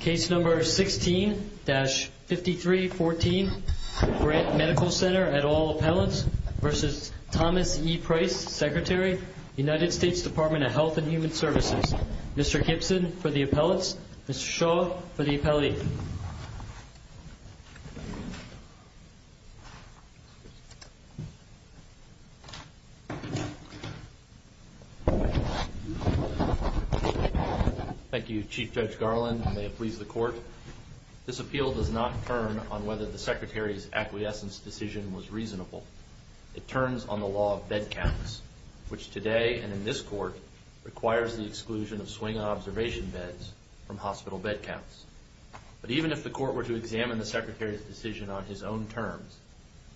Case No. 16-5314, Grant Medical Center, Appelants v. Thomas E. Price, Secretary, United States Department of Health and Human Services Mr. Gibson for the appellants, Mr. Shaw for the appellate Thank you, Chief Judge Garland. May it please the Court, this appeal does not turn on whether the Secretary's acquiescence decision was reasonable. It turns on the law of bed counts, which today, and in this Court, requires the exclusion of swing observation beds from hospital bed counts. But even if the Court were to examine the Secretary's decision on his own terms,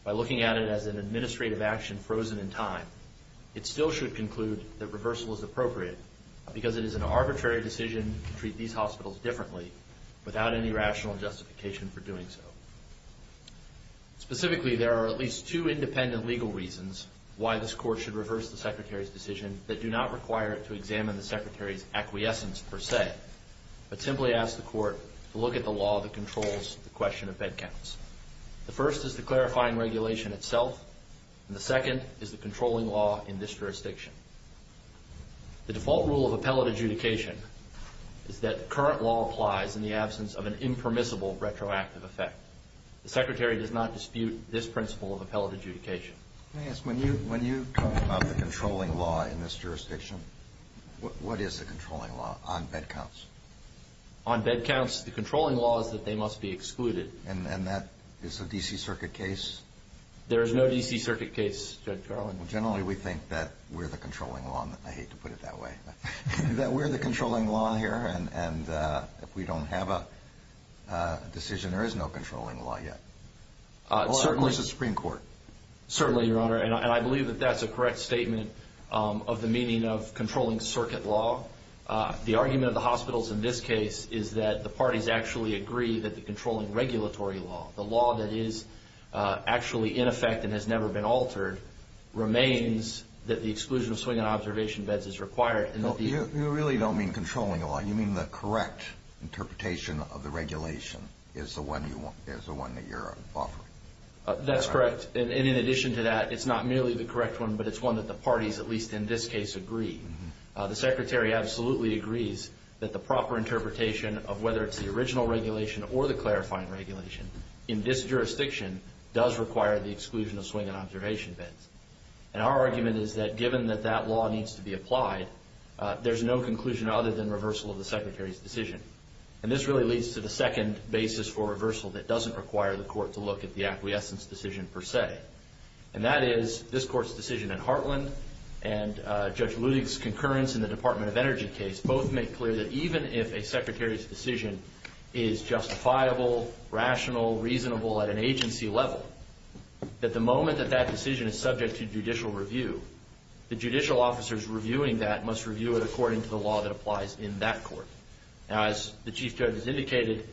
by looking at it as an administrative action frozen in time, it still should conclude that reversal is appropriate because it is an arbitrary decision to treat these hospitals differently without any rational justification for doing so. Specifically, there are at least two independent legal reasons why this Court should reverse the Secretary's decision that do not require it to examine the Secretary's acquiescence per se, but simply ask the Court to look at the law that controls the question of bed counts. The first is the clarifying regulation itself, and the second is the controlling law in this jurisdiction. The default rule of appellate adjudication is that current law applies in the absence of an impermissible retroactive effect. The Secretary does not dispute this principle of appellate adjudication. Let me ask, when you talk about the controlling law in this jurisdiction, what is the controlling law on bed counts? On bed counts, the controlling law is that they must be excluded. And that is a D.C. Circuit case? There is no D.C. Circuit case, Judge Garland. Generally, we think that we're the controlling law. I hate to put it that way. That we're the controlling law here, and if we don't have a decision, there is no controlling law yet. Well, certainly. Or, of course, the Supreme Court. Certainly, Your Honor, and I believe that that's a correct statement of the meaning of controlling circuit law. The argument of the hospitals in this case is that the parties actually agree that the controlling regulatory law, the law that is actually in effect and has never been altered, remains that the exclusion of swing and observation beds is required. You really don't mean controlling law. You mean the correct interpretation of the regulation is the one that you're offering. That's correct. And in addition to that, it's not merely the correct one, but it's one that the parties, at least in this case, agree. The Secretary absolutely agrees that the proper interpretation of whether it's the original regulation or the clarifying regulation in this jurisdiction does require the exclusion of swing and observation beds. And our argument is that given that that law needs to be applied, there's no conclusion other than reversal of the Secretary's decision. And this really leads to the second basis for reversal that doesn't require the Court to look at the acquiescence decision per se. And that is this Court's decision in Hartland and Judge Ludig's concurrence in the Department of Energy case both make clear that even if a Secretary's decision is justifiable, rational, reasonable at an agency level, that the moment that that decision is subject to judicial review, the judicial officers reviewing that must review it according to the law that applies in that court. Now, as the Chief Judge has indicated,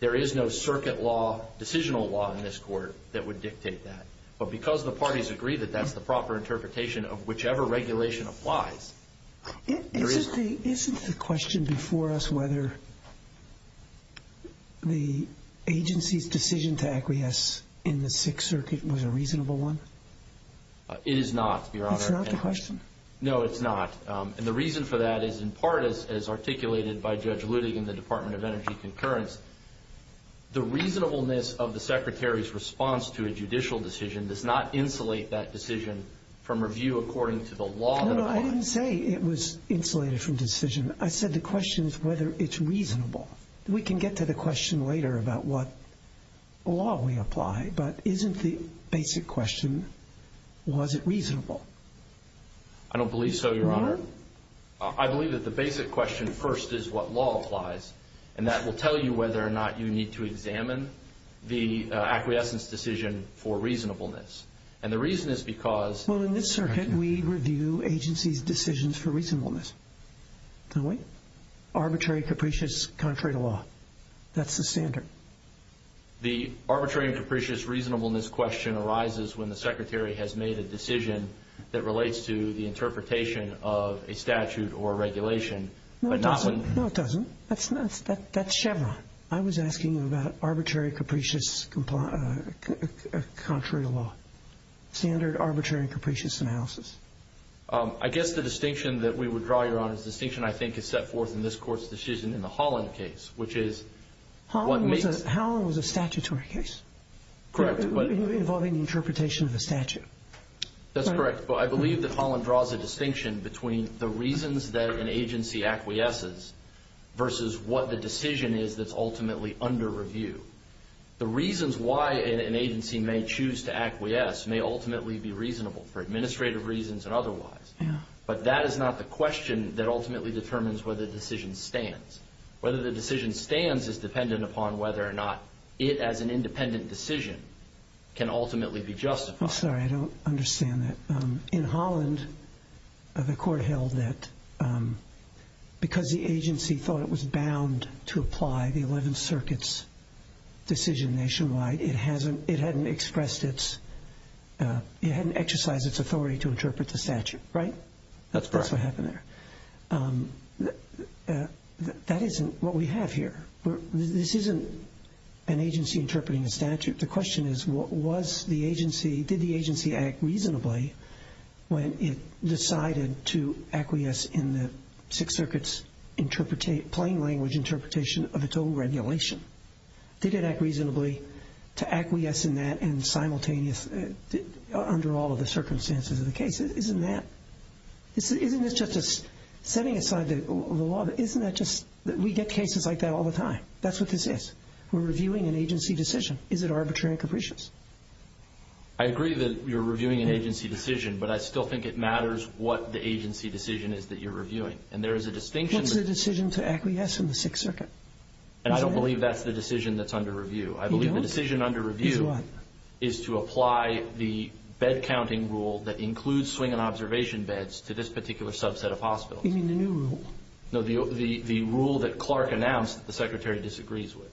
there is no circuit law, decisional law in this court that would dictate that. But because the parties agree that that's the proper interpretation of whichever regulation applies, there is... Isn't the question before us whether the agency's decision to acquiesce in the Sixth Circuit was a reasonable one? It is not, Your Honor. It's not the question? No, it's not. And the reason for that is, in part, as articulated by Judge Ludig in the Department of Energy concurrence, the reasonableness of the Secretary's response to a judicial decision does not insulate that decision from review according to the law that applies. No, I didn't say it was insulated from decision. I said the question is whether it's reasonable. We can get to the question later about what law we apply, but isn't the basic question, was it reasonable? I don't believe so, Your Honor. Your Honor? I believe that the basic question first is what law applies, and that will tell you whether or not you need to examine the acquiescence decision for reasonableness. And the reason is because... Well, in this circuit, we review agencies' decisions for reasonableness, don't we? Arbitrary, capricious, contrary to law. That's the standard. The arbitrary and capricious reasonableness question arises when the Secretary has made a decision that relates to the interpretation of a statute or regulation. No, it doesn't. No, it doesn't. That's Chevron. I was asking about arbitrary, capricious, contrary to law. Standard arbitrary and capricious analysis. I guess the distinction that we would draw, Your Honor, is a distinction I think is set forth in this Court's decision in the Holland case, which is... Holland was a statutory case. Correct. Involving the interpretation of a statute. That's correct. But I believe that Holland draws a distinction between the reasons that an agency acquiesces versus what the decision is that's ultimately under review. The reasons why an agency may choose to acquiesce may ultimately be reasonable for administrative reasons and otherwise. But that is not the question that ultimately determines whether the decision stands. Whether the decision stands is dependent upon whether or not it, as an independent decision, can ultimately be justified. I'm sorry. I don't understand that. In Holland, the Court held that because the agency thought it was bound to apply the Eleventh Circuit's decision nationwide, it hadn't expressed its... it hadn't exercised its authority to interpret the statute. Right? That's correct. That isn't what we have here. This isn't an agency interpreting a statute. The question is, did the agency act reasonably when it decided to acquiesce in the Sixth Circuit's plain language interpretation of a total regulation? Did it act reasonably to acquiesce in that and simultaneous under all of the circumstances of the case? Isn't that... Isn't this just setting aside the law? Isn't that just... We get cases like that all the time. That's what this is. We're reviewing an agency decision. Is it arbitrary and capricious? I agree that you're reviewing an agency decision, but I still think it matters what the agency decision is that you're reviewing. And there is a distinction... What's the decision to acquiesce in the Sixth Circuit? And I don't believe that's the decision that's under review. I believe the decision under review... Is what? ...is to apply the bed-counting rule that includes swing and observation beds to this particular subset of hospitals. You mean the new rule? No, the rule that Clark announced that the Secretary disagrees with.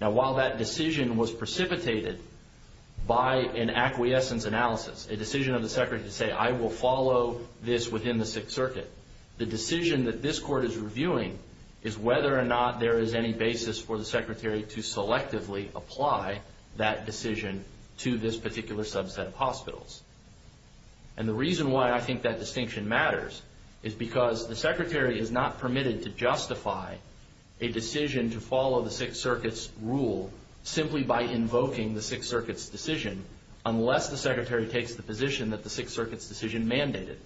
Now, while that decision was precipitated by an acquiescence analysis, a decision of the Secretary to say, the decision that this Court is reviewing is whether or not there is any basis for the Secretary to selectively apply that decision to this particular subset of hospitals. And the reason why I think that distinction matters is because the Secretary is not permitted to justify a decision to follow the Sixth Circuit's rule simply by invoking the Sixth Circuit's decision unless the Secretary takes the position that the Sixth Circuit's decision mandated.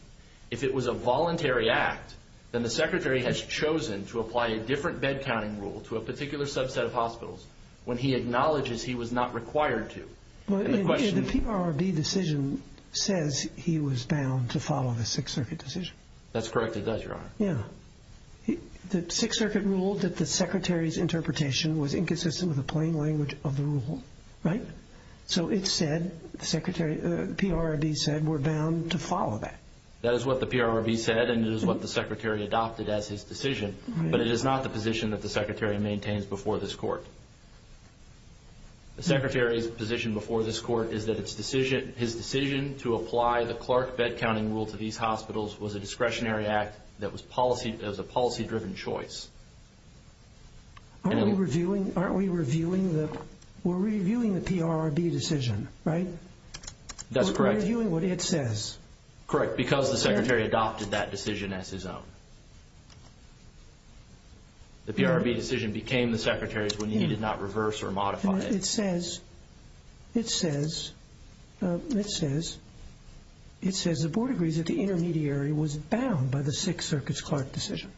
If it was a voluntary act, then the Secretary has chosen to apply a different bed-counting rule to a particular subset of hospitals when he acknowledges he was not required to. The PRRB decision says he was bound to follow the Sixth Circuit decision. That's correct, it does, Your Honor. Yeah. The Sixth Circuit ruled that the Secretary's interpretation was inconsistent with the plain language of the rule, right? So it said, the PRRB said, we're bound to follow that. That is what the PRRB said, and it is what the Secretary adopted as his decision. But it is not the position that the Secretary maintains before this Court. The Secretary's position before this Court is that his decision to apply the Clark bed-counting rule to these hospitals was a discretionary act that was a policy-driven choice. Aren't we reviewing the PRRB decision, right? That's correct. We're reviewing what it says. Correct, because the Secretary adopted that decision as his own. The PRRB decision became the Secretary's when he did not reverse or modify it. It says the Board agrees that the intermediary was bound by the Sixth Circuit's Clark decision.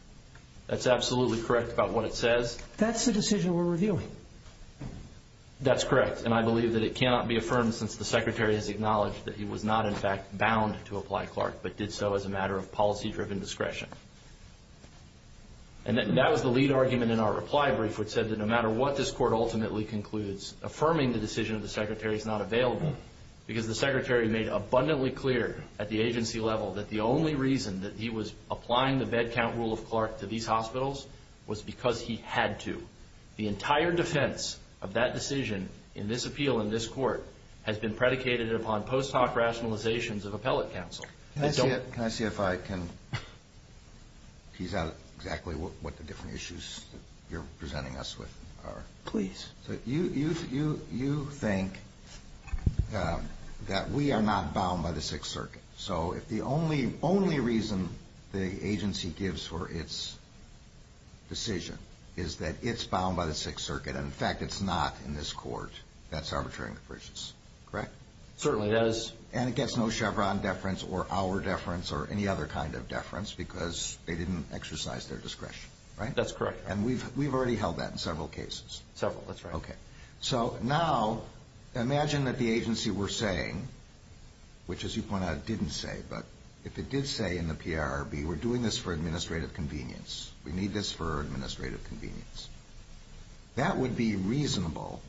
That's absolutely correct about what it says. That's the decision we're reviewing. That's correct, and I believe that it cannot be affirmed since the Secretary has acknowledged that he was not, in fact, bound to apply Clark, but did so as a matter of policy-driven discretion. And that was the lead argument in our reply brief, which said that no matter what this Court ultimately concludes, affirming the decision of the Secretary is not available, because the Secretary made abundantly clear at the agency level that the only reason that he was applying the bed-count rule of Clark to these hospitals was because he had to. The entire defense of that decision in this appeal in this Court has been predicated upon post hoc rationalizations of appellate counsel. Can I see if I can tease out exactly what the different issues you're presenting us with are? Please. You think that we are not bound by the Sixth Circuit, so if the only reason the agency gives for its decision is that it's bound by the Sixth Circuit and, in fact, it's not in this Court, that's arbitrary and capricious, correct? Certainly it is. And it gets no Chevron deference or our deference or any other kind of deference because they didn't exercise their discretion, right? That's correct. And we've already held that in several cases. Several, that's right. Okay. So now imagine that the agency were saying, which, as you point out, it didn't say, but if it did say in the PRRB, we're doing this for administrative convenience, we need this for administrative convenience, that would be reasonable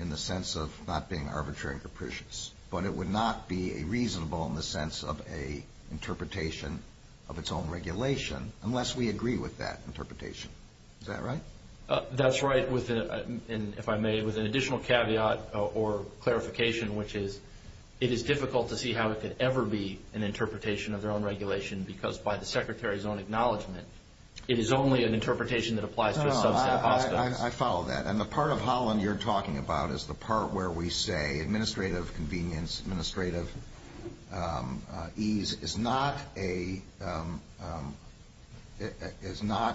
in the sense of not being arbitrary and capricious, but it would not be reasonable in the sense of an interpretation of its own regulation unless we agree with that interpretation. Is that right? That's right, if I may, with an additional caveat or clarification, which is it is difficult to see how it could ever be an interpretation of their own regulation because by the Secretary's own acknowledgment it is only an interpretation that applies to a subset of hospitals. I follow that. And the part of Holland you're talking about is the part where we say administrative convenience, administrative ease is not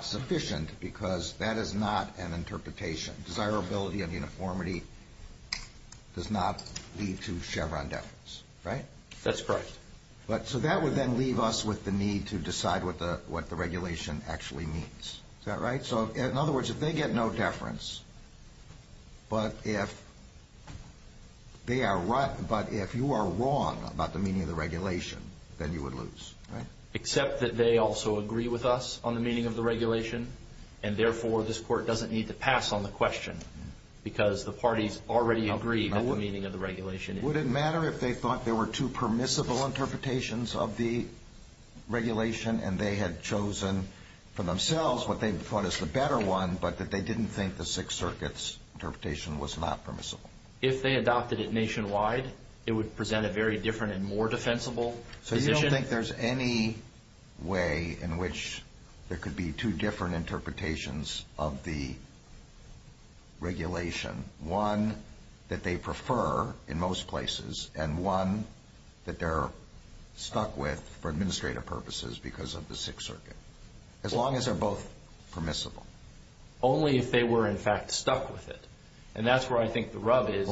sufficient because that is not an interpretation. Desirability and uniformity does not lead to Chevron deference, right? That's correct. So that would then leave us with the need to decide what the regulation actually means. Is that right? So in other words, if they get no deference, but if they are right, but if you are wrong about the meaning of the regulation, then you would lose, right? Except that they also agree with us on the meaning of the regulation, and therefore this Court doesn't need to pass on the question because the parties already agree on the meaning of the regulation. Would it matter if they thought there were two permissible interpretations of the regulation and they had chosen for themselves what they thought is the better one, but that they didn't think the Sixth Circuit's interpretation was not permissible? If they adopted it nationwide, it would present a very different and more defensible position. So you don't think there's any way in which there could be two different interpretations of the regulation, one that they prefer in most places and one that they're stuck with for administrative purposes because of the Sixth Circuit, as long as they're both permissible? Only if they were, in fact, stuck with it. And that's where I think the rub is.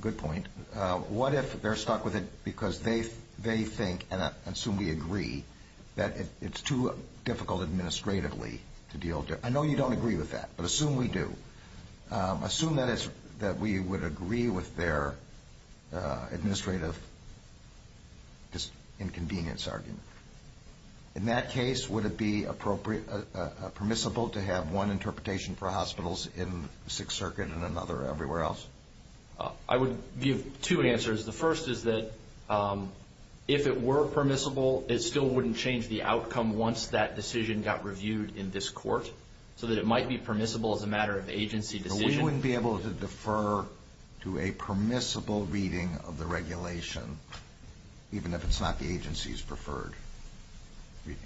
Good point. What if they're stuck with it because they think, and I assume we agree, that it's too difficult administratively to deal with it? I know you don't agree with that, but assume we do. Assume that we would agree with their administrative inconvenience argument. In that case, would it be permissible to have one interpretation for hospitals in the Sixth Circuit and another everywhere else? I would give two answers. The first is that if it were permissible, it still wouldn't change the outcome once that decision got reviewed in this court, so that it might be permissible as a matter of agency decision. But we wouldn't be able to defer to a permissible reading of the regulation, even if it's not the agency's preferred reading.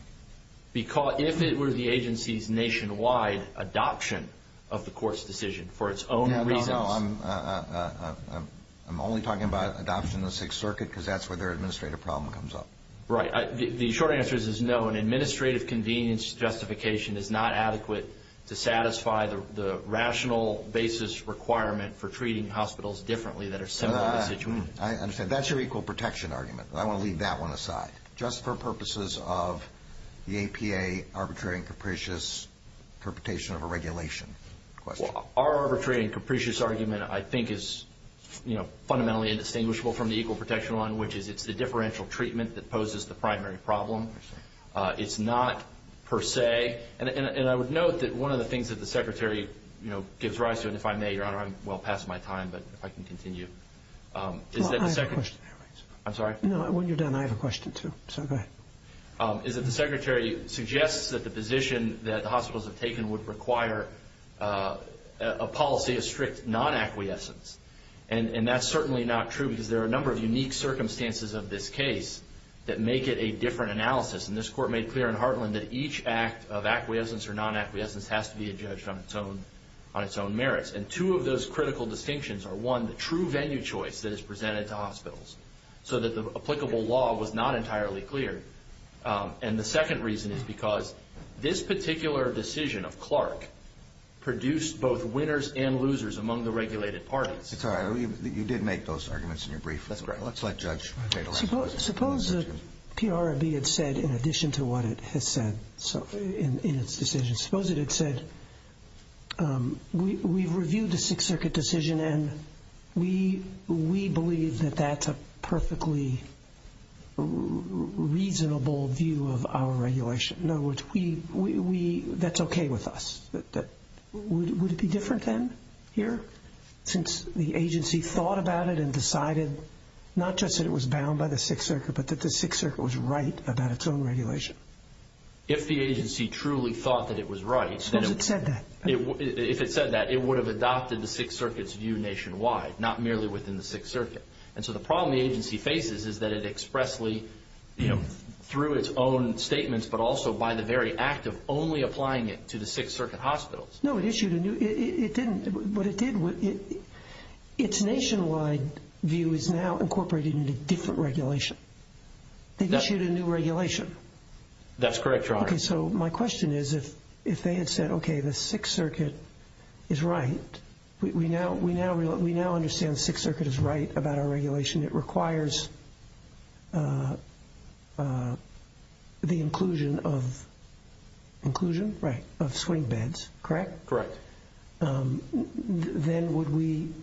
If it were the agency's nationwide adoption of the court's decision for its own reasons. No, I'm only talking about adoption in the Sixth Circuit because that's where their administrative problem comes up. Right. The short answer is no. An administrative convenience justification is not adequate to satisfy the rational basis requirement for treating hospitals differently that are similar to the situation. I understand. That's your equal protection argument. I want to leave that one aside, just for purposes of the APA arbitrary and capricious interpretation of a regulation question. Our arbitrary and capricious argument, I think, is fundamentally indistinguishable from the equal protection one, which is it's the differential treatment that poses the primary problem. I understand. It's not per se. And I would note that one of the things that the Secretary gives rise to, and if I may, Your Honor, I'm well past my time, but if I can continue. Well, I have a question. I'm sorry? No, when you're done, I have a question, too. So go ahead. Is that the Secretary suggests that the position that the hospitals have taken would require a policy of strict non-acquiescence. And that's certainly not true, because there are a number of unique circumstances of this case that make it a different analysis. And this Court made clear in Hartland that each act of acquiescence or non-acquiescence has to be judged on its own merits. And two of those critical distinctions are, one, the true venue choice that is presented to hospitals, so that the applicable law was not entirely clear. And the second reason is because this particular decision of Clark produced both winners and losers among the regulated parties. That's all right. You did make those arguments in your brief. That's correct. Let's let Judge Schmidt take the last one. Suppose PRB had said, in addition to what it has said in its decision, suppose it had said, we've reviewed the Sixth Circuit decision and we believe that that's a perfectly reasonable view of our regulation. In other words, that's okay with us. Would it be different then, here, since the agency thought about it and decided not just that it was bound by the Sixth Circuit, but that the Sixth Circuit was right about its own regulation? If the agency truly thought that it was right. Suppose it said that. If it said that, it would have adopted the Sixth Circuit's view nationwide, not merely within the Sixth Circuit. And so the problem the agency faces is that it expressly, through its own statements, but also by the very act of only applying it to the Sixth Circuit hospitals. No, it didn't. What it did, its nationwide view is now incorporated into different regulation. They've issued a new regulation. That's correct, Your Honor. Okay, so my question is, if they had said, okay, the Sixth Circuit is right, we now understand the Sixth Circuit is right about our regulation. It requires the inclusion of swing beds, correct? Correct. Then would we –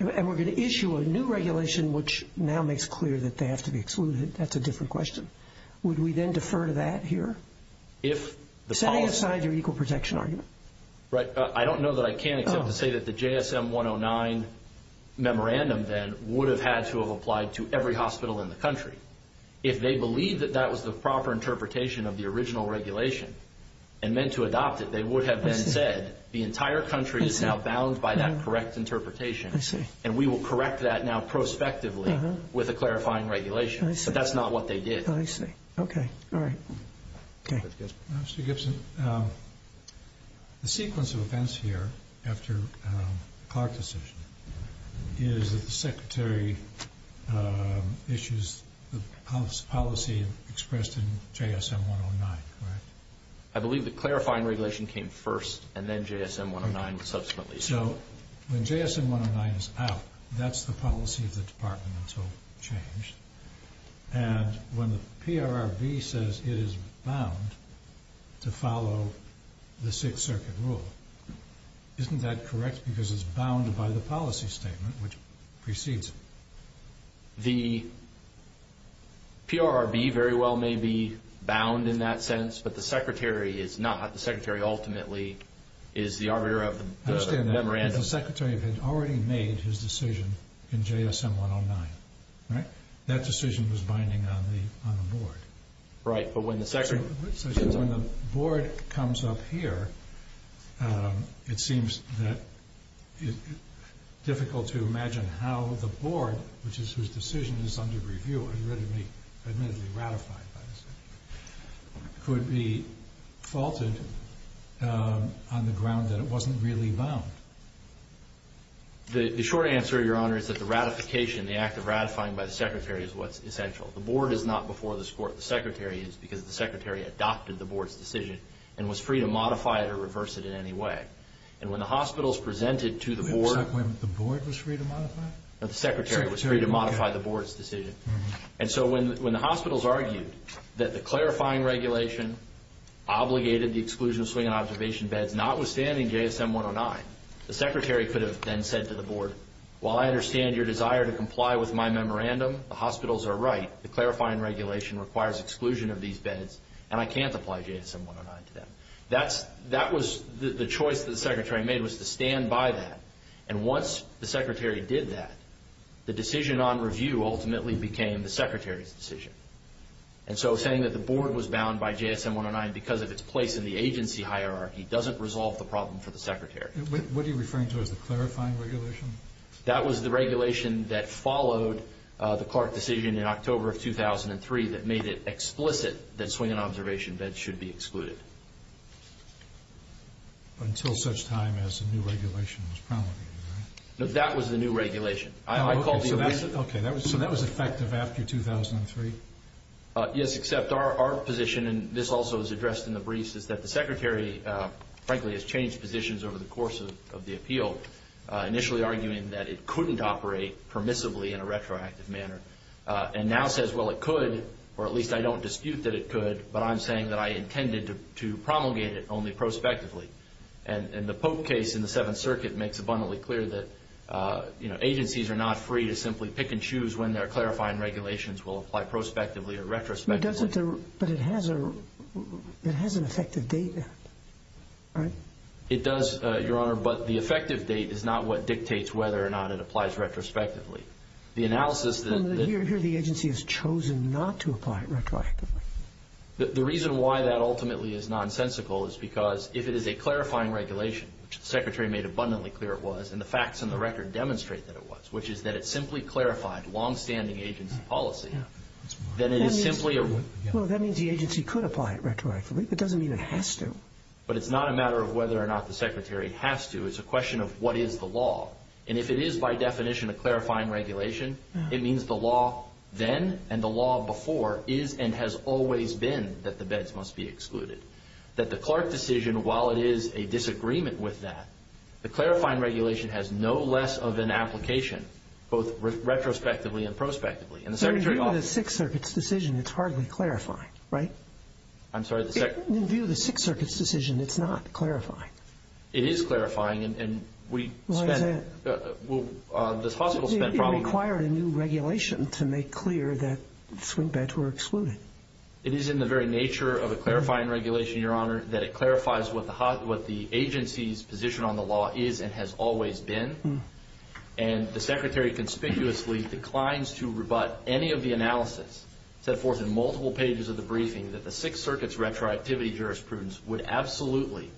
and we're going to issue a new regulation, which now makes clear that they have to be excluded. That's a different question. Would we then defer to that here? Setting aside your equal protection argument. I don't know that I can except to say that the JSM 109 memorandum then would have had to have applied to every hospital in the country. If they believed that that was the proper interpretation of the original regulation and meant to adopt it, they would have then said, the entire country is now bound by that correct interpretation. I see. And we will correct that now prospectively with a clarifying regulation. I see. But that's not what they did. I see. Okay. All right. Okay. Mr. Gibson, the sequence of events here after the Clark decision is that the Secretary issues the policy expressed in JSM 109, correct? I believe the clarifying regulation came first and then JSM 109 subsequently. So when JSM 109 is out, that's the policy of the department until changed. And when the PRRB says it is bound to follow the Sixth Circuit rule, isn't that correct because it's bounded by the policy statement which precedes it? The PRRB very well may be bound in that sense, but the Secretary is not. The Secretary ultimately is the arbiter of the memorandum. I understand that. So the Secretary had already made his decision in JSM 109, right? That decision was binding on the board. Right. So when the board comes up here, it seems difficult to imagine how the board, which is whose decision is under review and admittedly ratified by the Secretary, could be faulted on the ground that it wasn't really bound. The short answer, Your Honor, is that the ratification, the act of ratifying by the Secretary is what's essential. The board is not before this court. The Secretary is because the Secretary adopted the board's decision and was free to modify it or reverse it in any way. And when the hospitals presented to the board – Was that when the board was free to modify? No, the Secretary was free to modify the board's decision. And so when the hospitals argued that the clarifying regulation obligated the exclusion of swing and observation beds notwithstanding JSM 109, the Secretary could have then said to the board, while I understand your desire to comply with my memorandum, the hospitals are right. The clarifying regulation requires exclusion of these beds, and I can't apply JSM 109 to them. That was the choice that the Secretary made was to stand by that. And once the Secretary did that, the decision on review ultimately became the Secretary's decision. And so saying that the board was bound by JSM 109 because of its place in the agency hierarchy doesn't resolve the problem for the Secretary. What are you referring to as the clarifying regulation? That was the regulation that followed the Clark decision in October of 2003 that made it explicit that swing and observation beds should be excluded. But until such time as a new regulation was promulgated, right? No, that was the new regulation. I called the amendment. Okay, so that was effective after 2003? Yes, except our position, and this also was addressed in the briefs, is that the Secretary, frankly, has changed positions over the course of the appeal, initially arguing that it couldn't operate permissibly in a retroactive manner, and now says, well, it could, or at least I don't dispute that it could, but I'm saying that I intended to promulgate it only prospectively. And the Pope case in the Seventh Circuit makes abundantly clear that agencies are not free to simply pick and choose when their clarifying regulations will apply prospectively or retrospectively. But it has an effective date, right? It does, Your Honor, but the effective date is not what dictates whether or not it applies retrospectively. Here the agency has chosen not to apply it retroactively. The reason why that ultimately is nonsensical is because if it is a clarifying regulation, which the Secretary made abundantly clear it was, and the facts in the record demonstrate that it was, which is that it simply clarified longstanding agency policy, then it is simply a... Well, that means the agency could apply it retroactively. It doesn't mean it has to. But it's not a matter of whether or not the Secretary has to. It's a question of what is the law. And if it is by definition a clarifying regulation, it means the law then and the law before is and has always been that the beds must be excluded. That the Clark decision, while it is a disagreement with that, the clarifying regulation has no less of an application, both retrospectively and prospectively. In view of the Sixth Circuit's decision, it's hardly clarifying, right? I'm sorry? In view of the Sixth Circuit's decision, it's not clarifying. It is clarifying, and we... Why is that? Well, this possible spent problem... It required a new regulation to make clear that swing beds were excluded. It is in the very nature of a clarifying regulation, Your Honor, that it clarifies what the agency's position on the law is and has always been. And the Secretary conspicuously declines to rebut any of the analysis set forth in multiple pages of the briefing that the Sixth Circuit's retroactivity jurisprudence would absolutely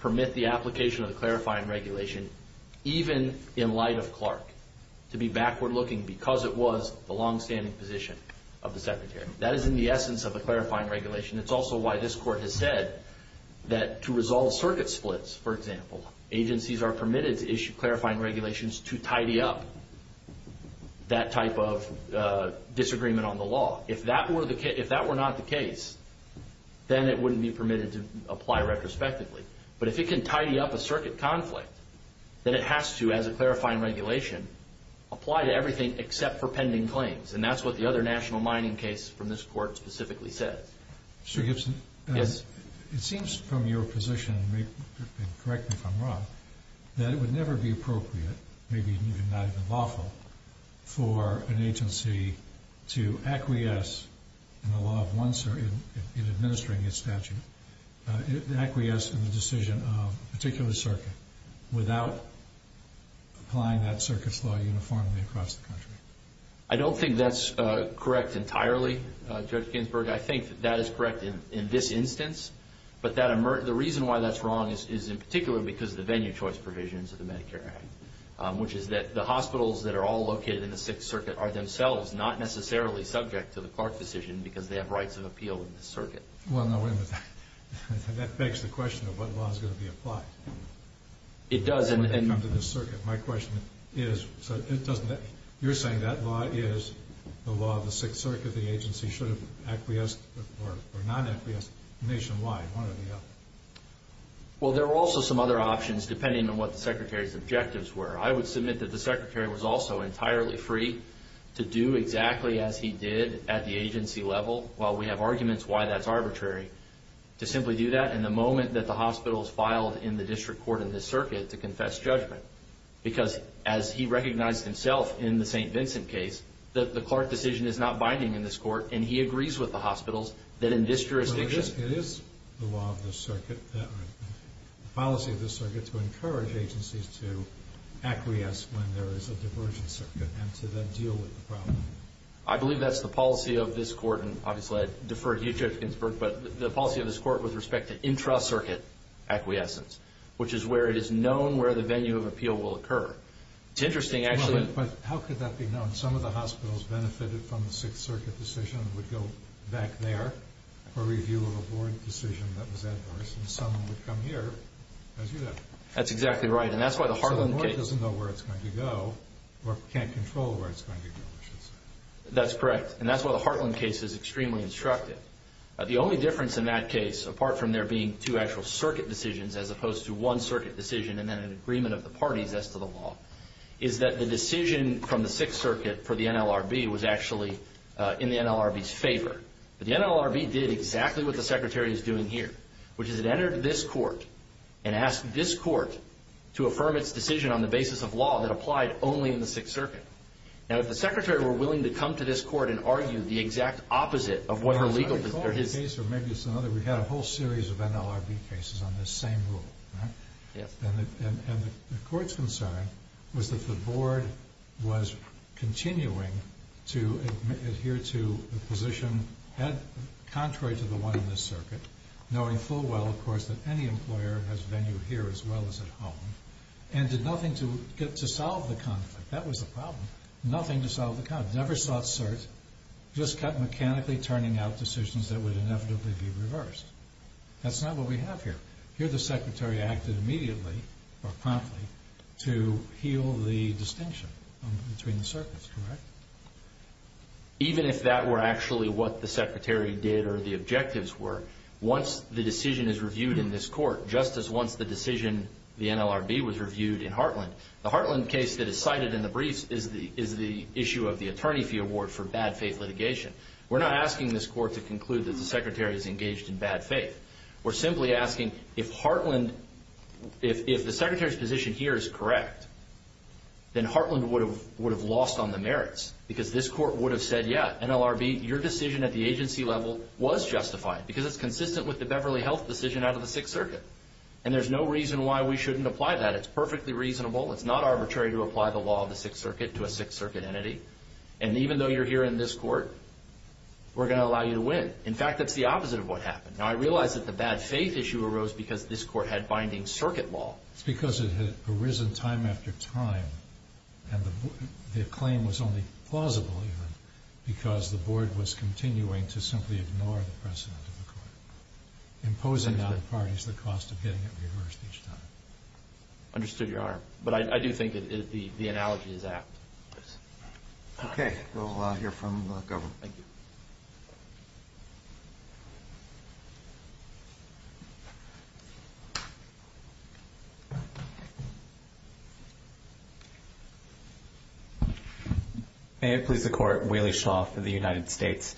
permit the application of the clarifying regulation, even in light of Clark, to be backward-looking because it was the long-standing position of the Secretary. That is in the essence of the clarifying regulation. It's also why this Court has said that to resolve circuit splits, for example, agencies are permitted to issue clarifying regulations to tidy up that type of disagreement on the law. If that were not the case, then it wouldn't be permitted to apply retrospectively. But if it can tidy up a circuit conflict, then it has to, as a clarifying regulation, apply to everything except for pending claims, and that's what the other national mining case from this Court specifically says. Mr. Gibson? Yes. It seems from your position, and correct me if I'm wrong, that it would never be appropriate, maybe not even lawful, for an agency to acquiesce in the law of one circuit in administering its statute, acquiesce in the decision of a particular circuit without applying that circuit's law uniformly across the country. I don't think that's correct entirely, Judge Ginsburg. I think that that is correct in this instance, but the reason why that's wrong is in particular because of the venue choice provisions of the Medicare Act, which is that the hospitals that are all located in the Sixth Circuit are themselves not necessarily subject to the Clark decision because they have rights of appeal in this circuit. Well, no, wait a minute. That begs the question of what law is going to be applied. It does. When they come to this circuit. My question is, you're saying that law is the law of the Sixth Circuit, the agency should acquiesce or not acquiesce nationwide, one or the other. Well, there are also some other options, depending on what the Secretary's objectives were. I would submit that the Secretary was also entirely free to do exactly as he did at the agency level, while we have arguments why that's arbitrary, to simply do that in the moment that the hospitals filed in the district court in this circuit to confess judgment because, as he recognized himself in the St. Vincent case, the Clark decision is not binding in this court, and he agrees with the hospitals that in this jurisdiction. It is the law of this circuit, the policy of this circuit, to encourage agencies to acquiesce when there is a diversion circuit and to then deal with the problem. I believe that's the policy of this court, and obviously I defer to you, Judge Ginsburg, but the policy of this court with respect to intra-circuit acquiescence, which is where it is known where the venue of appeal will occur. It's interesting, actually. How could that be known? Some of the hospitals benefited from the Sixth Circuit decision and some would go back there for review of a board decision that was adverse, and some would come here as you did. That's exactly right, and that's why the Hartland case— So the board doesn't know where it's going to go or can't control where it's going to go, I should say. That's correct, and that's why the Hartland case is extremely instructive. The only difference in that case, apart from there being two actual circuit decisions as opposed to one circuit decision and then an agreement of the parties as to the law, is that the decision from the Sixth Circuit for the NLRB was actually in the NLRB's favor. The NLRB did exactly what the Secretary is doing here, which is it entered this court and asked this court to affirm its decision on the basis of law that applied only in the Sixth Circuit. Now, if the Secretary were willing to come to this court and argue the exact opposite of what her legal position— I recall the case, or maybe it's another. We had a whole series of NLRB cases on this same rule, right? Yes. And the court's concern was that the board was continuing to adhere to a position contrary to the one in this circuit, knowing full well, of course, that any employer has venue here as well as at home, and did nothing to solve the conflict. That was the problem. Nothing to solve the conflict. Never sought cert. Just kept mechanically turning out decisions that would inevitably be reversed. That's not what we have here. Here the Secretary acted immediately, or promptly, to heal the distinction between the circuits, correct? Even if that were actually what the Secretary did or the objectives were, once the decision is reviewed in this court, just as once the decision, the NLRB, was reviewed in Heartland, the Heartland case that is cited in the briefs is the issue of the attorney fee award for bad faith litigation. We're not asking this court to conclude that the Secretary is engaged in bad faith. We're simply asking if Heartland, if the Secretary's position here is correct, then Heartland would have lost on the merits, because this court would have said, yeah, NLRB, your decision at the agency level was justified, because it's consistent with the Beverly Health decision out of the Sixth Circuit. And there's no reason why we shouldn't apply that. It's perfectly reasonable. It's not arbitrary to apply the law of the Sixth Circuit to a Sixth Circuit entity. And even though you're here in this court, we're going to allow you to win. In fact, that's the opposite of what happened. Now, I realize that the bad faith issue arose because this court had binding circuit law. It's because it had arisen time after time, and the claim was only plausible, even, because the board was continuing to simply ignore the precedent of the court, imposing on the parties the cost of getting it reversed each time. Understood your argument. But I do think the analogy is apt. Okay. We'll hear from the government. Thank you. Thank you. May it please the Court. Waley Shaw for the United States.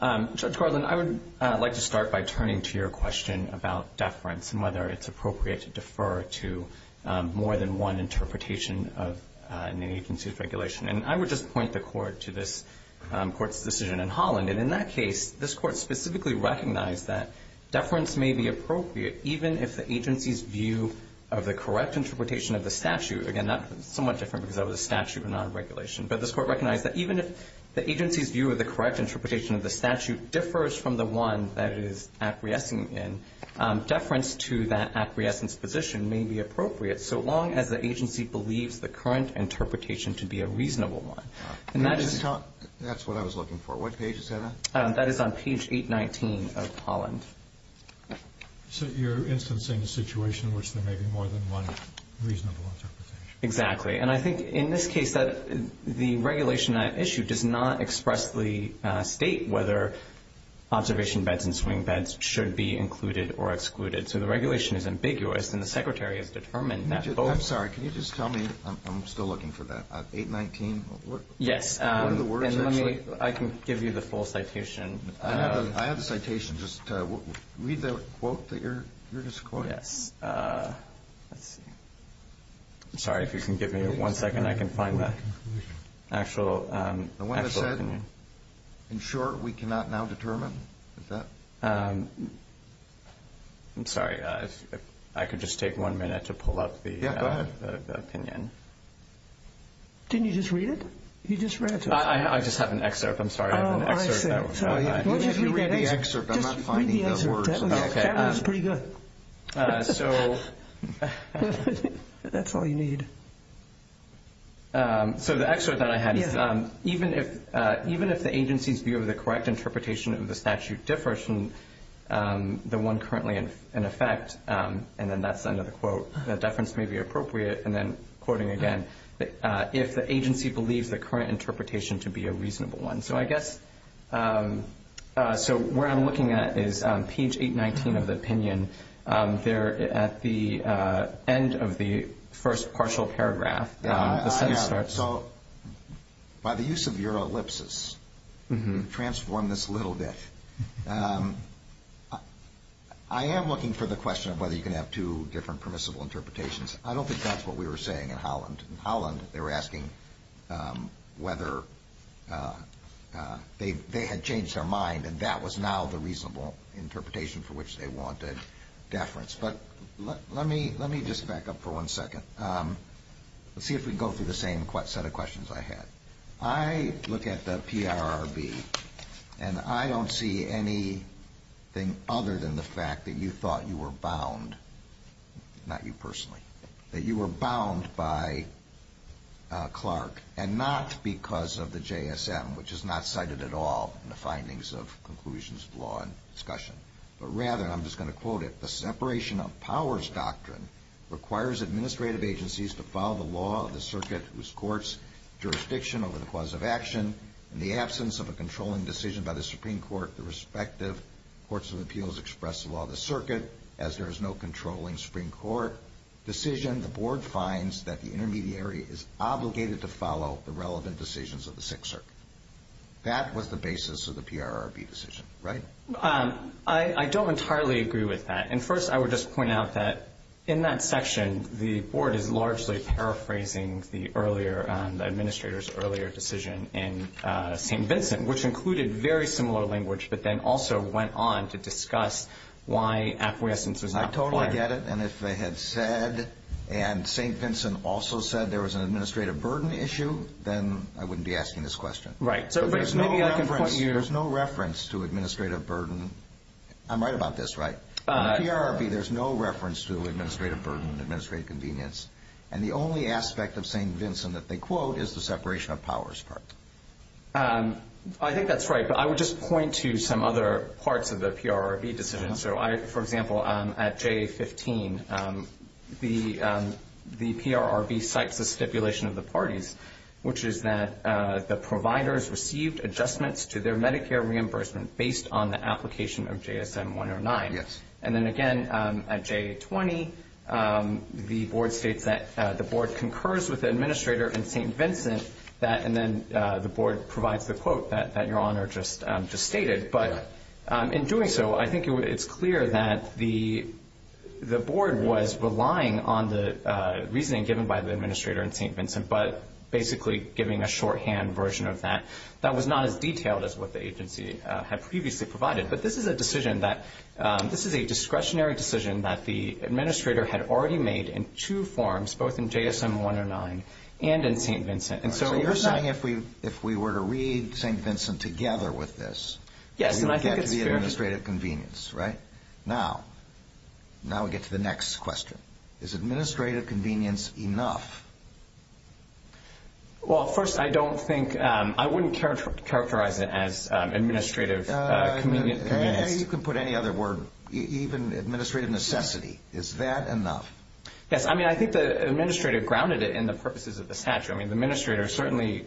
Judge Garland, I would like to start by turning to your question about deference and whether it's appropriate to defer to more than one interpretation of an agency's regulation. And I would just point the Court to this Court's decision in Holland. And in that case, this Court specifically recognized that deference may be appropriate, even if the agency's view of the correct interpretation of the statute, again, that's somewhat different because that was a statute and not a regulation, but this Court recognized that even if the agency's view of the correct interpretation of the statute differs from the one that it is acquiescing in, deference to that acquiescence position may be appropriate, so long as the agency believes the current interpretation to be a reasonable one. That's what I was looking for. What page is that on? That is on page 819 of Holland. So you're instancing a situation in which there may be more than one reasonable interpretation. Exactly. And I think in this case, the regulation at issue does not expressly state whether observation beds and swing beds should be included or excluded. So the regulation is ambiguous, and the Secretary has determined that both... I'm sorry. Can you just tell me? I'm still looking for that. 819? Yes. What are the words actually? I can give you the full citation. I have the citation. Just read the quote that you're just quoting. Yes. Let's see. I'm sorry. If you can give me one second, I can find the actual opinion. The one that said, in short, we cannot now determine? Is that... I'm sorry. I could just take one minute to pull up the opinion. Yeah, go ahead. Didn't you just read it? You just read it. I just have an excerpt. I'm sorry. I have an excerpt. Oh, I see. If you read the excerpt, I'm not finding the words. Just read the excerpt. That was pretty good. So... That's all you need. So the excerpt that I had is, even if the agency's view of the correct interpretation of the statute differs from the one currently in effect, and then that's the end of the quote, that deference may be appropriate, and then quoting again, if the agency believes the current interpretation to be a reasonable one. So I guess where I'm looking at is page 819 of the opinion. There at the end of the first partial paragraph, the sentence starts. So by the use of your ellipsis, transform this a little bit. I am looking for the question of whether you can have two different permissible interpretations. I don't think that's what we were saying in Holland. In Holland, they were asking whether they had changed their mind, and that was now the reasonable interpretation for which they wanted deference. But let me just back up for one second. Let's see if we can go through the same set of questions I had. I look at the PRRB, and I don't see anything other than the fact that you thought you were bound, not you personally, that you were bound by Clark and not because of the JSM, which is not cited at all in the findings of conclusions of law and discussion. But rather, and I'm just going to quote it, the separation of powers doctrine requires administrative agencies to follow the law of the circuit whose court's jurisdiction over the cause of action, in the absence of a controlling decision by the Supreme Court, the respective courts of appeals express the law of the circuit, as there is no controlling Supreme Court decision, the board finds that the intermediary is obligated to follow the relevant decisions of the Sixth Circuit. That was the basis of the PRRB decision, right? I don't entirely agree with that. And first, I would just point out that in that section, the board is largely paraphrasing the administrator's earlier decision in St. Vincent, which included very similar language but then also went on to discuss why acquiescence was not required. I totally get it. And if they had said, and St. Vincent also said there was an administrative burden issue, then I wouldn't be asking this question. Right. There's no reference to administrative burden. I'm right about this, right? In the PRRB, there's no reference to administrative burden, administrative convenience. And the only aspect of St. Vincent that they quote is the separation of powers part. I think that's right. But I would just point to some other parts of the PRRB decision. So, for example, at J15, the PRRB cites the stipulation of the parties, which is that the providers received adjustments to their Medicare reimbursement based on the application of JSM-109. Yes. And then, again, at J20, the board states that the board concurs with the administrator in St. Vincent. And then the board provides the quote that Your Honor just stated. But in doing so, I think it's clear that the board was relying on the reasoning given by the administrator in St. Vincent but basically giving a shorthand version of that. That was not as detailed as what the agency had previously provided. But this is a discretionary decision that the administrator had already made in two forms, both in JSM-109 and in St. Vincent. So you're saying if we were to read St. Vincent together with this, we would get the administrative convenience, right? Now we get to the next question. Is administrative convenience enough? Well, first, I don't think – I wouldn't characterize it as administrative convenience. You can put any other word, even administrative necessity. Is that enough? Yes. I mean, I think the administrator grounded it in the purposes of the statute. I mean, the administrator certainly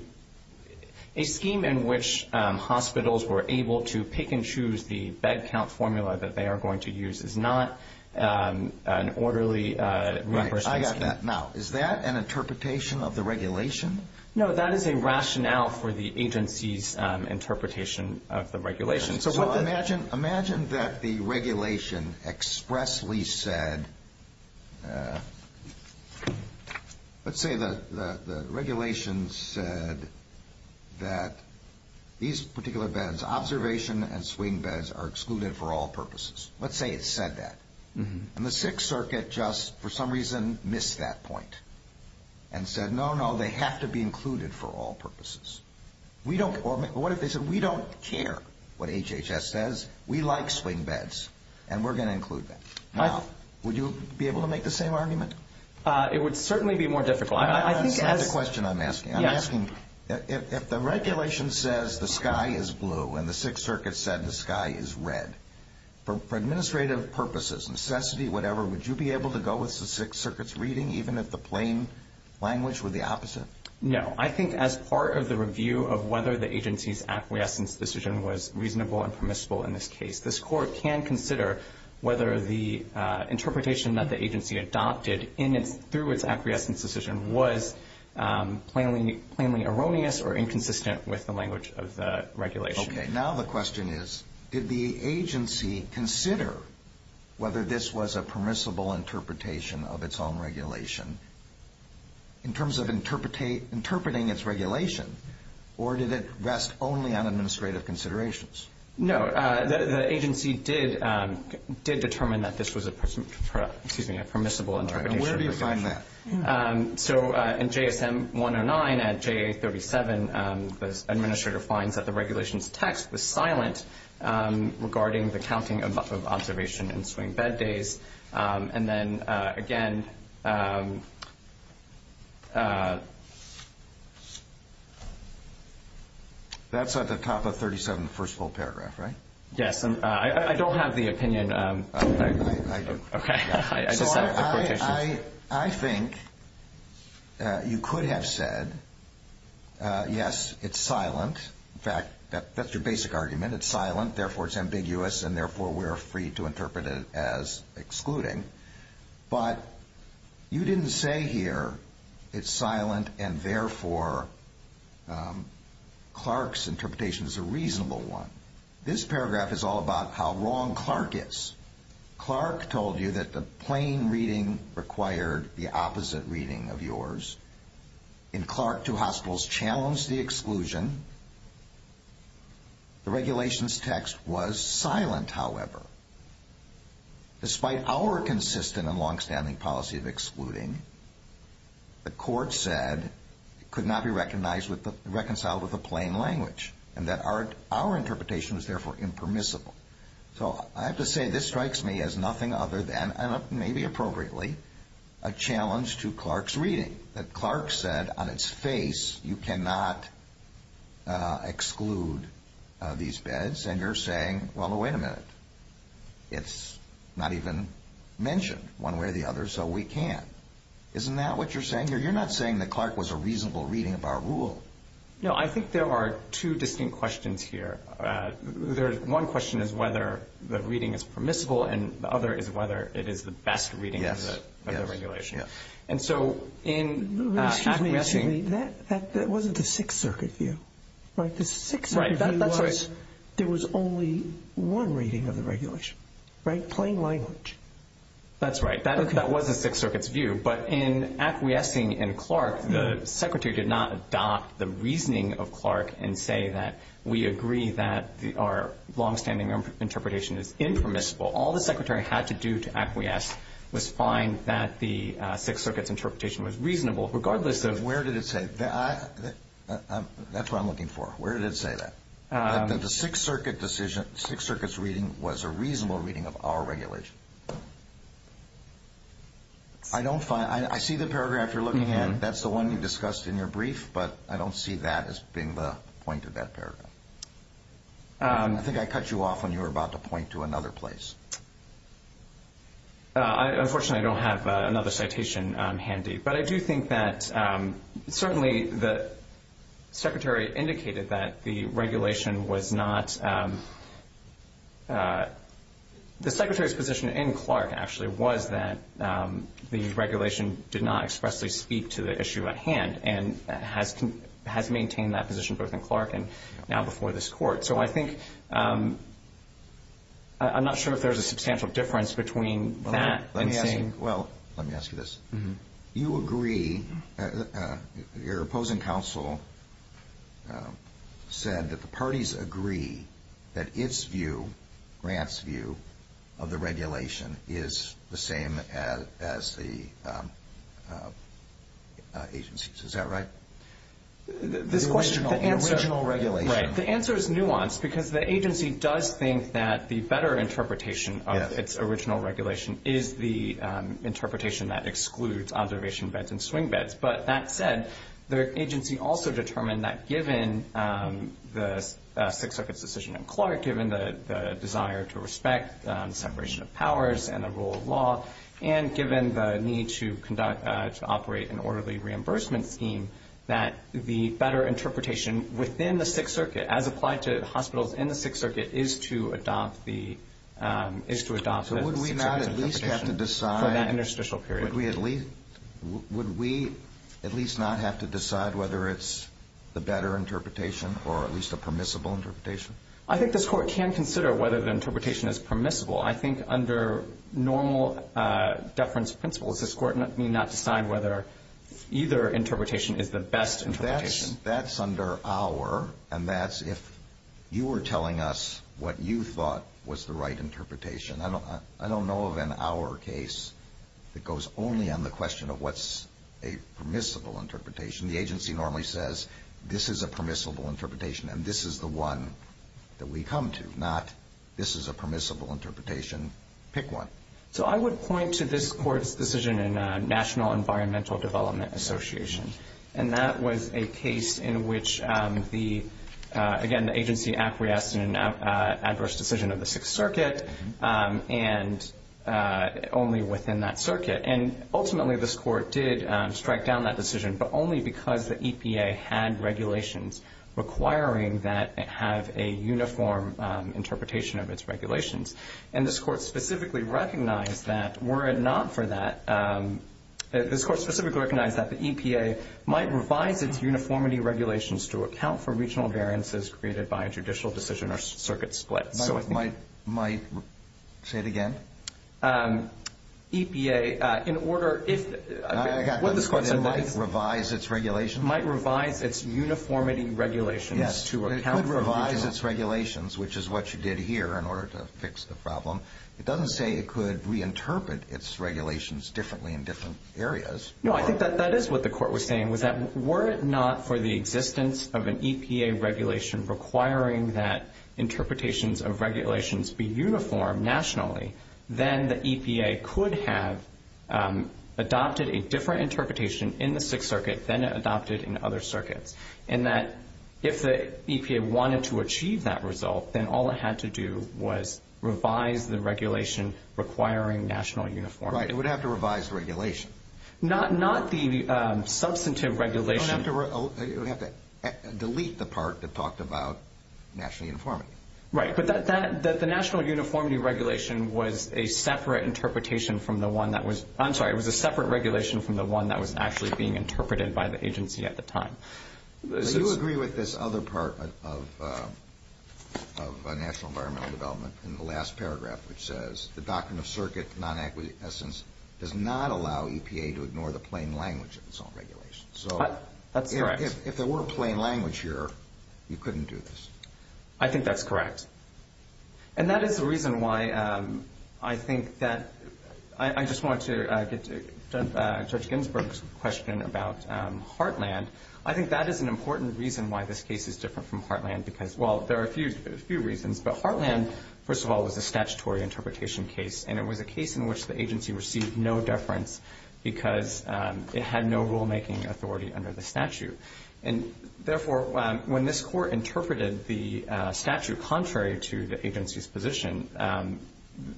– a scheme in which hospitals were able to pick and choose the bed count formula that they are going to use is not an orderly reimbursement scheme. Right. Is that an interpretation of the regulation? No, that is a rationale for the agency's interpretation of the regulation. Imagine that the regulation expressly said – let's say the regulation said that these particular beds, observation and swing beds, are excluded for all purposes. Let's say it said that. And the Sixth Circuit just, for some reason, missed that point and said, no, no, they have to be included for all purposes. Or what if they said, we don't care what HHS says. We like swing beds, and we're going to include them. Now, would you be able to make the same argument? It would certainly be more difficult. That's not the question I'm asking. I'm asking if the regulation says the sky is blue and the Sixth Circuit said the sky is red, for administrative purposes, necessity, whatever, would you be able to go with the Sixth Circuit's reading even if the plain language were the opposite? No. I think as part of the review of whether the agency's acquiescence decision was reasonable and permissible in this case, this Court can consider whether the interpretation that the agency adopted through its acquiescence decision was plainly erroneous or inconsistent with the language of the regulation. Okay. Now the question is, did the agency consider whether this was a permissible interpretation of its own regulation in terms of interpreting its regulation, or did it rest only on administrative considerations? No. The agency did determine that this was a permissible interpretation. Where do you find that? So in JSM 109 and JA 37, the administrator finds that the regulation's text was silent regarding the counting of observation and swing bed days. And then, again, that's at the top of 37, the first full paragraph, right? Yes. I don't have the opinion. I do. Okay. So I think you could have said, yes, it's silent. In fact, that's your basic argument. It's silent, therefore it's ambiguous, and therefore we're free to interpret it as excluding. But you didn't say here, it's silent and therefore Clark's interpretation is a reasonable one. This paragraph is all about how wrong Clark is. Clark told you that the plain reading required the opposite reading of yours. In Clark, two hospitals challenged the exclusion. The regulation's text was silent, however. Despite our consistent and longstanding policy of excluding, the court said it could not be reconciled with the plain language and that our interpretation was therefore impermissible. So I have to say this strikes me as nothing other than, and maybe appropriately, a challenge to Clark's reading, that Clark said on its face, you cannot exclude these beds, and you're saying, well, wait a minute. It's not even mentioned one way or the other, so we can't. Isn't that what you're saying here? You're not saying that Clark was a reasonable reading of our rule. No, I think there are two distinct questions here. One question is whether the reading is permissible, and the other is whether it is the best reading of the regulation. And so in acquiescing— Excuse me. That wasn't the Sixth Circuit view, right? The Sixth Circuit view was there was only one reading of the regulation, right? Plain language. That's right. That was the Sixth Circuit's view. But in acquiescing in Clark, the Secretary did not adopt the reasoning of Clark and say that we agree that our longstanding interpretation is impermissible. All the Secretary had to do to acquiesce was find that the Sixth Circuit's interpretation was reasonable, regardless of— Where did it say that? That's what I'm looking for. Where did it say that? That the Sixth Circuit's reading was a reasonable reading of our regulation. I don't find—I see the paragraph you're looking at. That's the one you discussed in your brief, but I don't see that as being the point of that paragraph. I think I cut you off when you were about to point to another place. Unfortunately, I don't have another citation handy. But I do think that certainly the Secretary indicated that the regulation was not— and has maintained that position both in Clark and now before this Court. So I think—I'm not sure if there's a substantial difference between that and saying— Well, let me ask you this. You agree—your opposing counsel said that the parties agree that its view, Grant's view, of the regulation is the same as the agency's. Is that right? This question— The original regulation. Right. The answer is nuanced because the agency does think that the better interpretation of its original regulation is the interpretation that excludes observation beds and swing beds. But that said, the agency also determined that given the Sixth Circuit's decision in Clark, given the desire to respect separation of powers and the rule of law, and given the need to operate an orderly reimbursement scheme, that the better interpretation within the Sixth Circuit, as applied to hospitals in the Sixth Circuit, is to adopt the— So would we not at least have to decide— —for that interstitial period? Would we at least not have to decide whether it's the better interpretation or at least a permissible interpretation? I think this Court can consider whether the interpretation is permissible. I think under normal deference principles, this Court may not decide whether either interpretation is the best interpretation. That's under our—and that's if you were telling us what you thought was the right interpretation. I don't know of an our case that goes only on the question of what's a permissible interpretation. The agency normally says, this is a permissible interpretation, and this is the one that we come to, not this is a permissible interpretation, pick one. So I would point to this Court's decision in National Environmental Development Association, and that was a case in which the, again, the agency acquiesced in an adverse decision of the Sixth Circuit and only within that circuit. And ultimately this Court did strike down that decision, but only because the EPA had regulations requiring that it have a uniform interpretation of its regulations. And this Court specifically recognized that were it not for that— this Court specifically recognized that the EPA might revise its uniformity regulations to account for regional variances created by a judicial decision or circuit splits. So it might say it again? EPA, in order, if— I got this question, might it revise its regulations? Might revise its uniformity regulations to account for regional— Yes, it could revise its regulations, which is what you did here in order to fix the problem. It doesn't say it could reinterpret its regulations differently in different areas. No, I think that is what the Court was saying, was that were it not for the existence of an EPA regulation requiring that interpretations of regulations be uniform nationally, then the EPA could have adopted a different interpretation in the Sixth Circuit than it adopted in other circuits, and that if the EPA wanted to achieve that result, then all it had to do was revise the regulation requiring national uniformity. Right, it would have to revise the regulation. Not the substantive regulation. It would have to delete the part that talked about national uniformity. Right, but the national uniformity regulation was a separate interpretation from the one that was— I'm sorry, it was a separate regulation from the one that was actually being interpreted by the agency at the time. Do you agree with this other part of national environmental development in the last paragraph, which says the doctrine of circuit non-acquiescence does not allow EPA to ignore the plain language of its own regulations? That's correct. So if there were a plain language here, you couldn't do this? I think that's correct. And that is the reason why I think that— I just want to get to Judge Ginsburg's question about Heartland. I think that is an important reason why this case is different from Heartland because— well, there are a few reasons, but Heartland, first of all, was a statutory interpretation case, and it was a case in which the agency received no deference because it had no rulemaking authority under the statute. And therefore, when this court interpreted the statute contrary to the agency's position,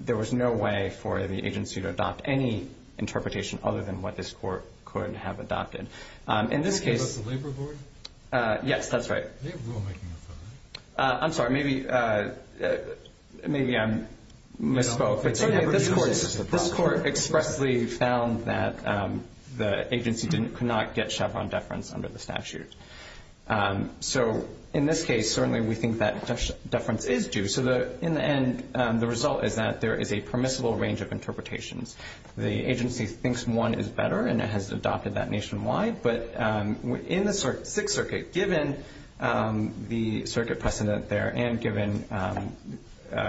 there was no way for the agency to adopt any interpretation other than what this court could have adopted. In this case— They gave us the labor board? Yes, that's right. They have rulemaking authority? I'm sorry, maybe I misspoke. This court expressly found that the agency could not get Chevron deference under the statute. So in this case, certainly we think that deference is due. So in the end, the result is that there is a permissible range of interpretations. The agency thinks one is better, and it has adopted that nationwide. But in the Sixth Circuit, given the circuit precedent there and given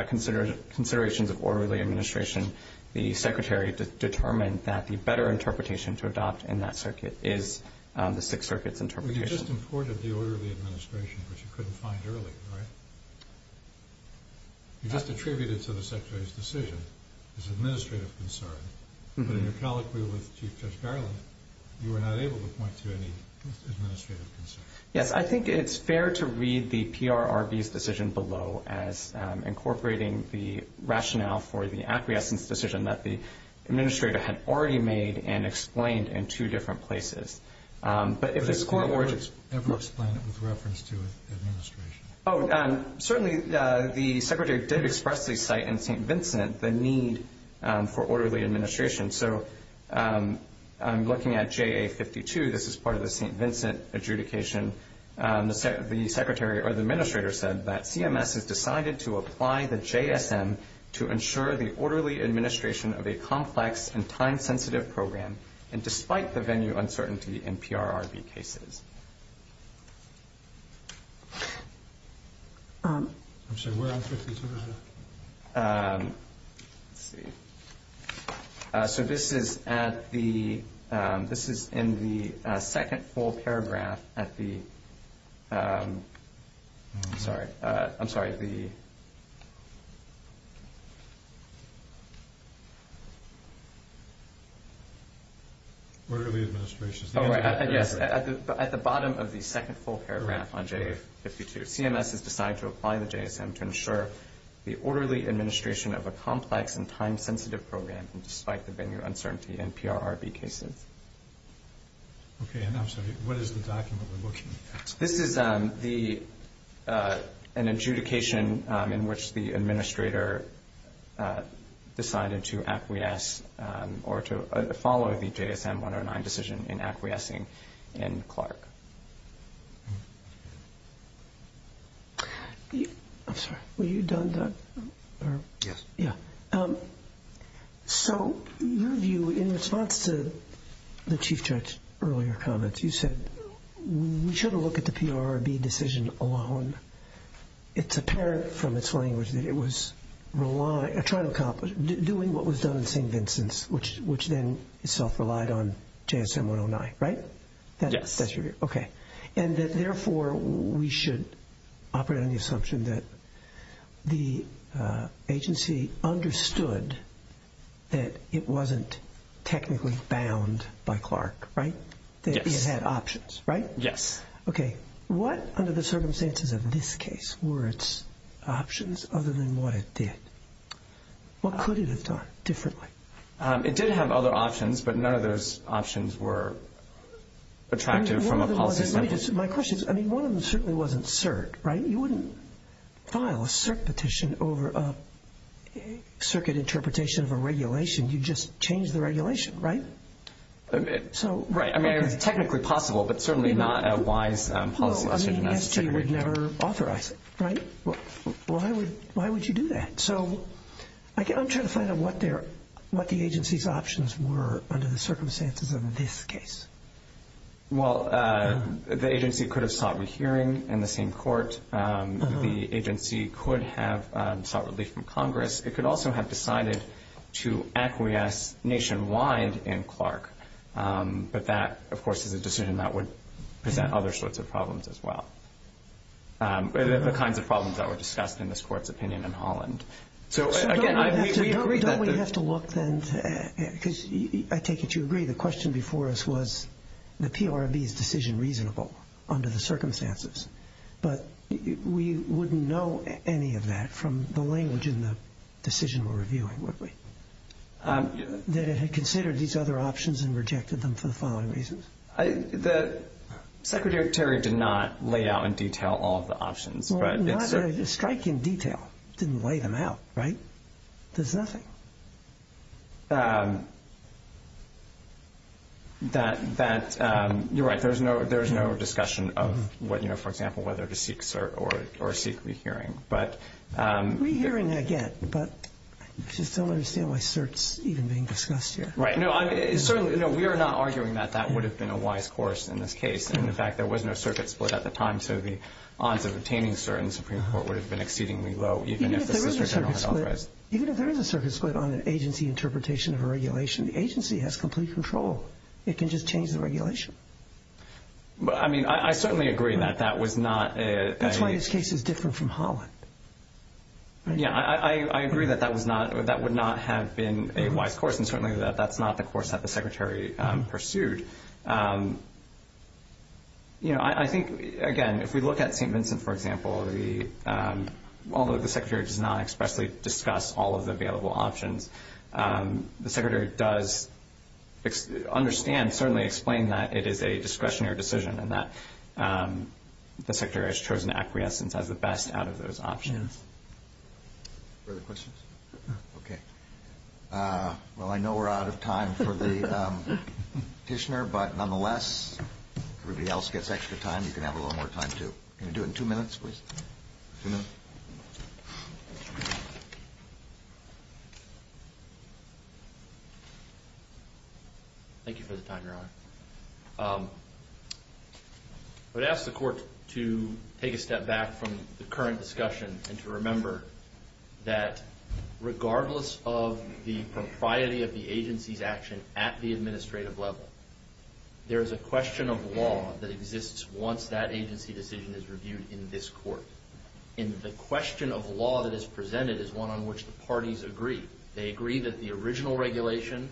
considerations of orderly administration, the Secretary determined that the better interpretation to adopt in that circuit is the Sixth Circuit's interpretation. Well, you just imported the orderly administration, which you couldn't find earlier, right? You just attributed it to the Secretary's decision, his administrative concern. But in your colloquy with Chief Judge Garland, you were not able to point to any administrative concern. Yes, I think it's fair to read the PRRB's decision below as incorporating the rationale for the acquiescence decision that the administrator had already made and explained in two different places. But if this court were to— But did the court ever explain it with reference to administration? Oh, certainly the Secretary did expressly cite in St. Vincent the need for orderly administration. So I'm looking at JA-52. This is part of the St. Vincent adjudication. The Secretary or the administrator said that CMS has decided to apply the JSM to ensure the orderly administration of a complex and time-sensitive program, and despite the venue uncertainty in PRRB cases. I'm sorry, where are 52? Let's see. So this is at the—this is in the second full paragraph at the— Orderly administration. Yes, at the bottom of the second full paragraph on JA-52, CMS has decided to apply the JSM to ensure the orderly administration of a complex and time-sensitive program, and despite the venue uncertainty in PRRB cases. Okay, and I'm sorry, what is the document we're looking at? This is an adjudication in which the administrator decided to acquiesce or to follow the JSM-109 decision in acquiescing in Clark. I'm sorry, were you done, Doug? Yes. Yeah. So your view in response to the Chief Judge's earlier comments, you said we should have looked at the PRRB decision alone. It's apparent from its language that it was relying—trying to accomplish— which then itself relied on JSM-109, right? Yes. Okay. And that therefore we should operate on the assumption that the agency understood that it wasn't technically bound by Clark, right? Yes. That it had options, right? Yes. Okay. What, under the circumstances of this case, were its options other than what it did? What could it have done differently? It did have other options, but none of those options were attractive from a policy standpoint. Let me just—my question is, I mean, one of them certainly wasn't cert, right? You wouldn't file a cert petition over a circuit interpretation of a regulation. You'd just change the regulation, right? So— Right. I mean, it was technically possible, but certainly not a wise policy decision. No, I mean, SG would never authorize it, right? Why would you do that? So I'm trying to find out what the agency's options were under the circumstances of this case. Well, the agency could have sought rehearing in the same court. The agency could have sought relief from Congress. It could also have decided to acquiesce nationwide in Clark. But that, of course, is a decision that would present other sorts of problems as well. The kinds of problems that were discussed in this Court's opinion in Holland. So, again, we agree that— So don't we have to look then—because I take it you agree the question before us was the PRB's decision reasonable under the circumstances. But we wouldn't know any of that from the language in the decision we're reviewing, would we? That it had considered these other options and rejected them for the following reasons. The secretary did not lay out in detail all of the options. Well, not in striking detail. Didn't lay them out, right? There's nothing. You're right. There's no discussion of, for example, whether to seek cert or seek rehearing. Rehearing, I get. But I just don't understand why cert's even being discussed here. Right. No, we are not arguing that that would have been a wise course in this case. And, in fact, there was no circuit split at the time, so the odds of obtaining cert in the Supreme Court would have been exceedingly low. Even if there is a circuit split on an agency interpretation of a regulation, the agency has complete control. It can just change the regulation. I mean, I certainly agree that that was not a— That's why this case is different from Holland. Yeah, I agree that that would not have been a wise course, and certainly that that's not the course that the secretary pursued. I think, again, if we look at St. Vincent, for example, although the secretary does not expressly discuss all of the available options, the secretary does understand, certainly explain, that it is a discretionary decision and that the secretary has chosen acquiescence as the best out of those options. Further questions? No. Okay. Well, I know we're out of time for the petitioner, but nonetheless, if everybody else gets extra time, you can have a little more time, too. Can you do it in two minutes, please? Two minutes. Thank you for the time, Your Honor. I would ask the Court to take a step back from the current discussion and to remember that regardless of the propriety of the agency's action at the administrative level, there is a question of law that exists once that agency decision is reviewed in this Court. And the question of law that is presented is one on which the parties agree. They agree that the original regulation,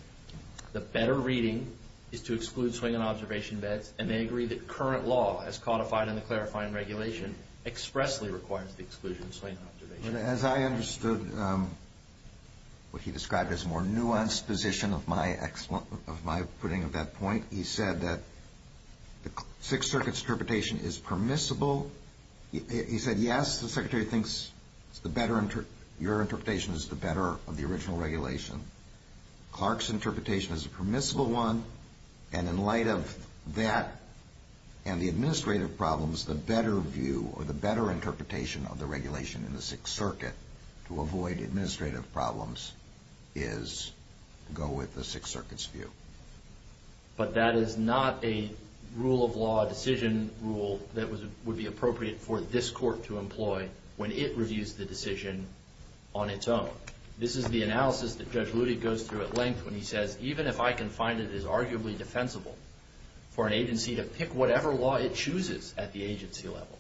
the better reading, is to exclude swing and observation beds, and they agree that current law as codified in the clarifying regulation expressly requires the exclusion of swing and observation beds. As I understood what he described as a more nuanced position of my putting of that point, he said that the Sixth Circuit's interpretation is permissible. He said, yes, the secretary thinks your interpretation is the better of the original regulation. Clark's interpretation is a permissible one, and in light of that and the administrative problems, the better view or the better interpretation of the regulation in the Sixth Circuit to avoid administrative problems is to go with the Sixth Circuit's view. But that is not a rule of law decision rule that would be appropriate for this Court to employ when it reviews the decision on its own. This is the analysis that Judge Ludi goes through at length when he says, even if I can find it is arguably defensible for an agency to pick whatever law it chooses at the agency level.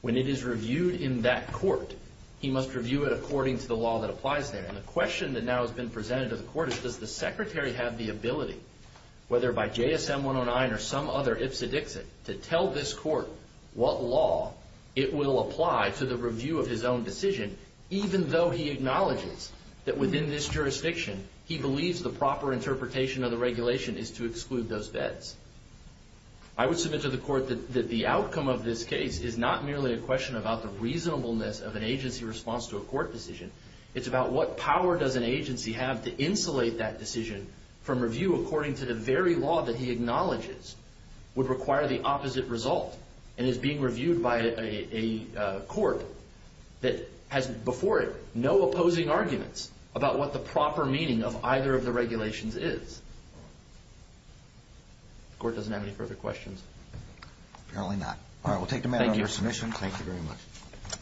When it is reviewed in that court, he must review it according to the law that applies there. And the question that now has been presented to the Court is, does the secretary have the ability, whether by JSM 109 or some other ipsa dixit, to tell this Court what law it will apply to the review of his own decision, even though he acknowledges that within this jurisdiction, he believes the proper interpretation of the regulation is to exclude those bets? I would submit to the Court that the outcome of this case is not merely a question about the reasonableness of an agency response to a court decision. It's about what power does an agency have to insulate that decision from review according to the very law that he acknowledges would require the opposite result and is being reviewed by a court that has, before it, no opposing arguments about what the proper meaning of either of the regulations is. The Court doesn't have any further questions. Apparently not. All right, we'll take the matter under submission. Thank you. Thank you very much.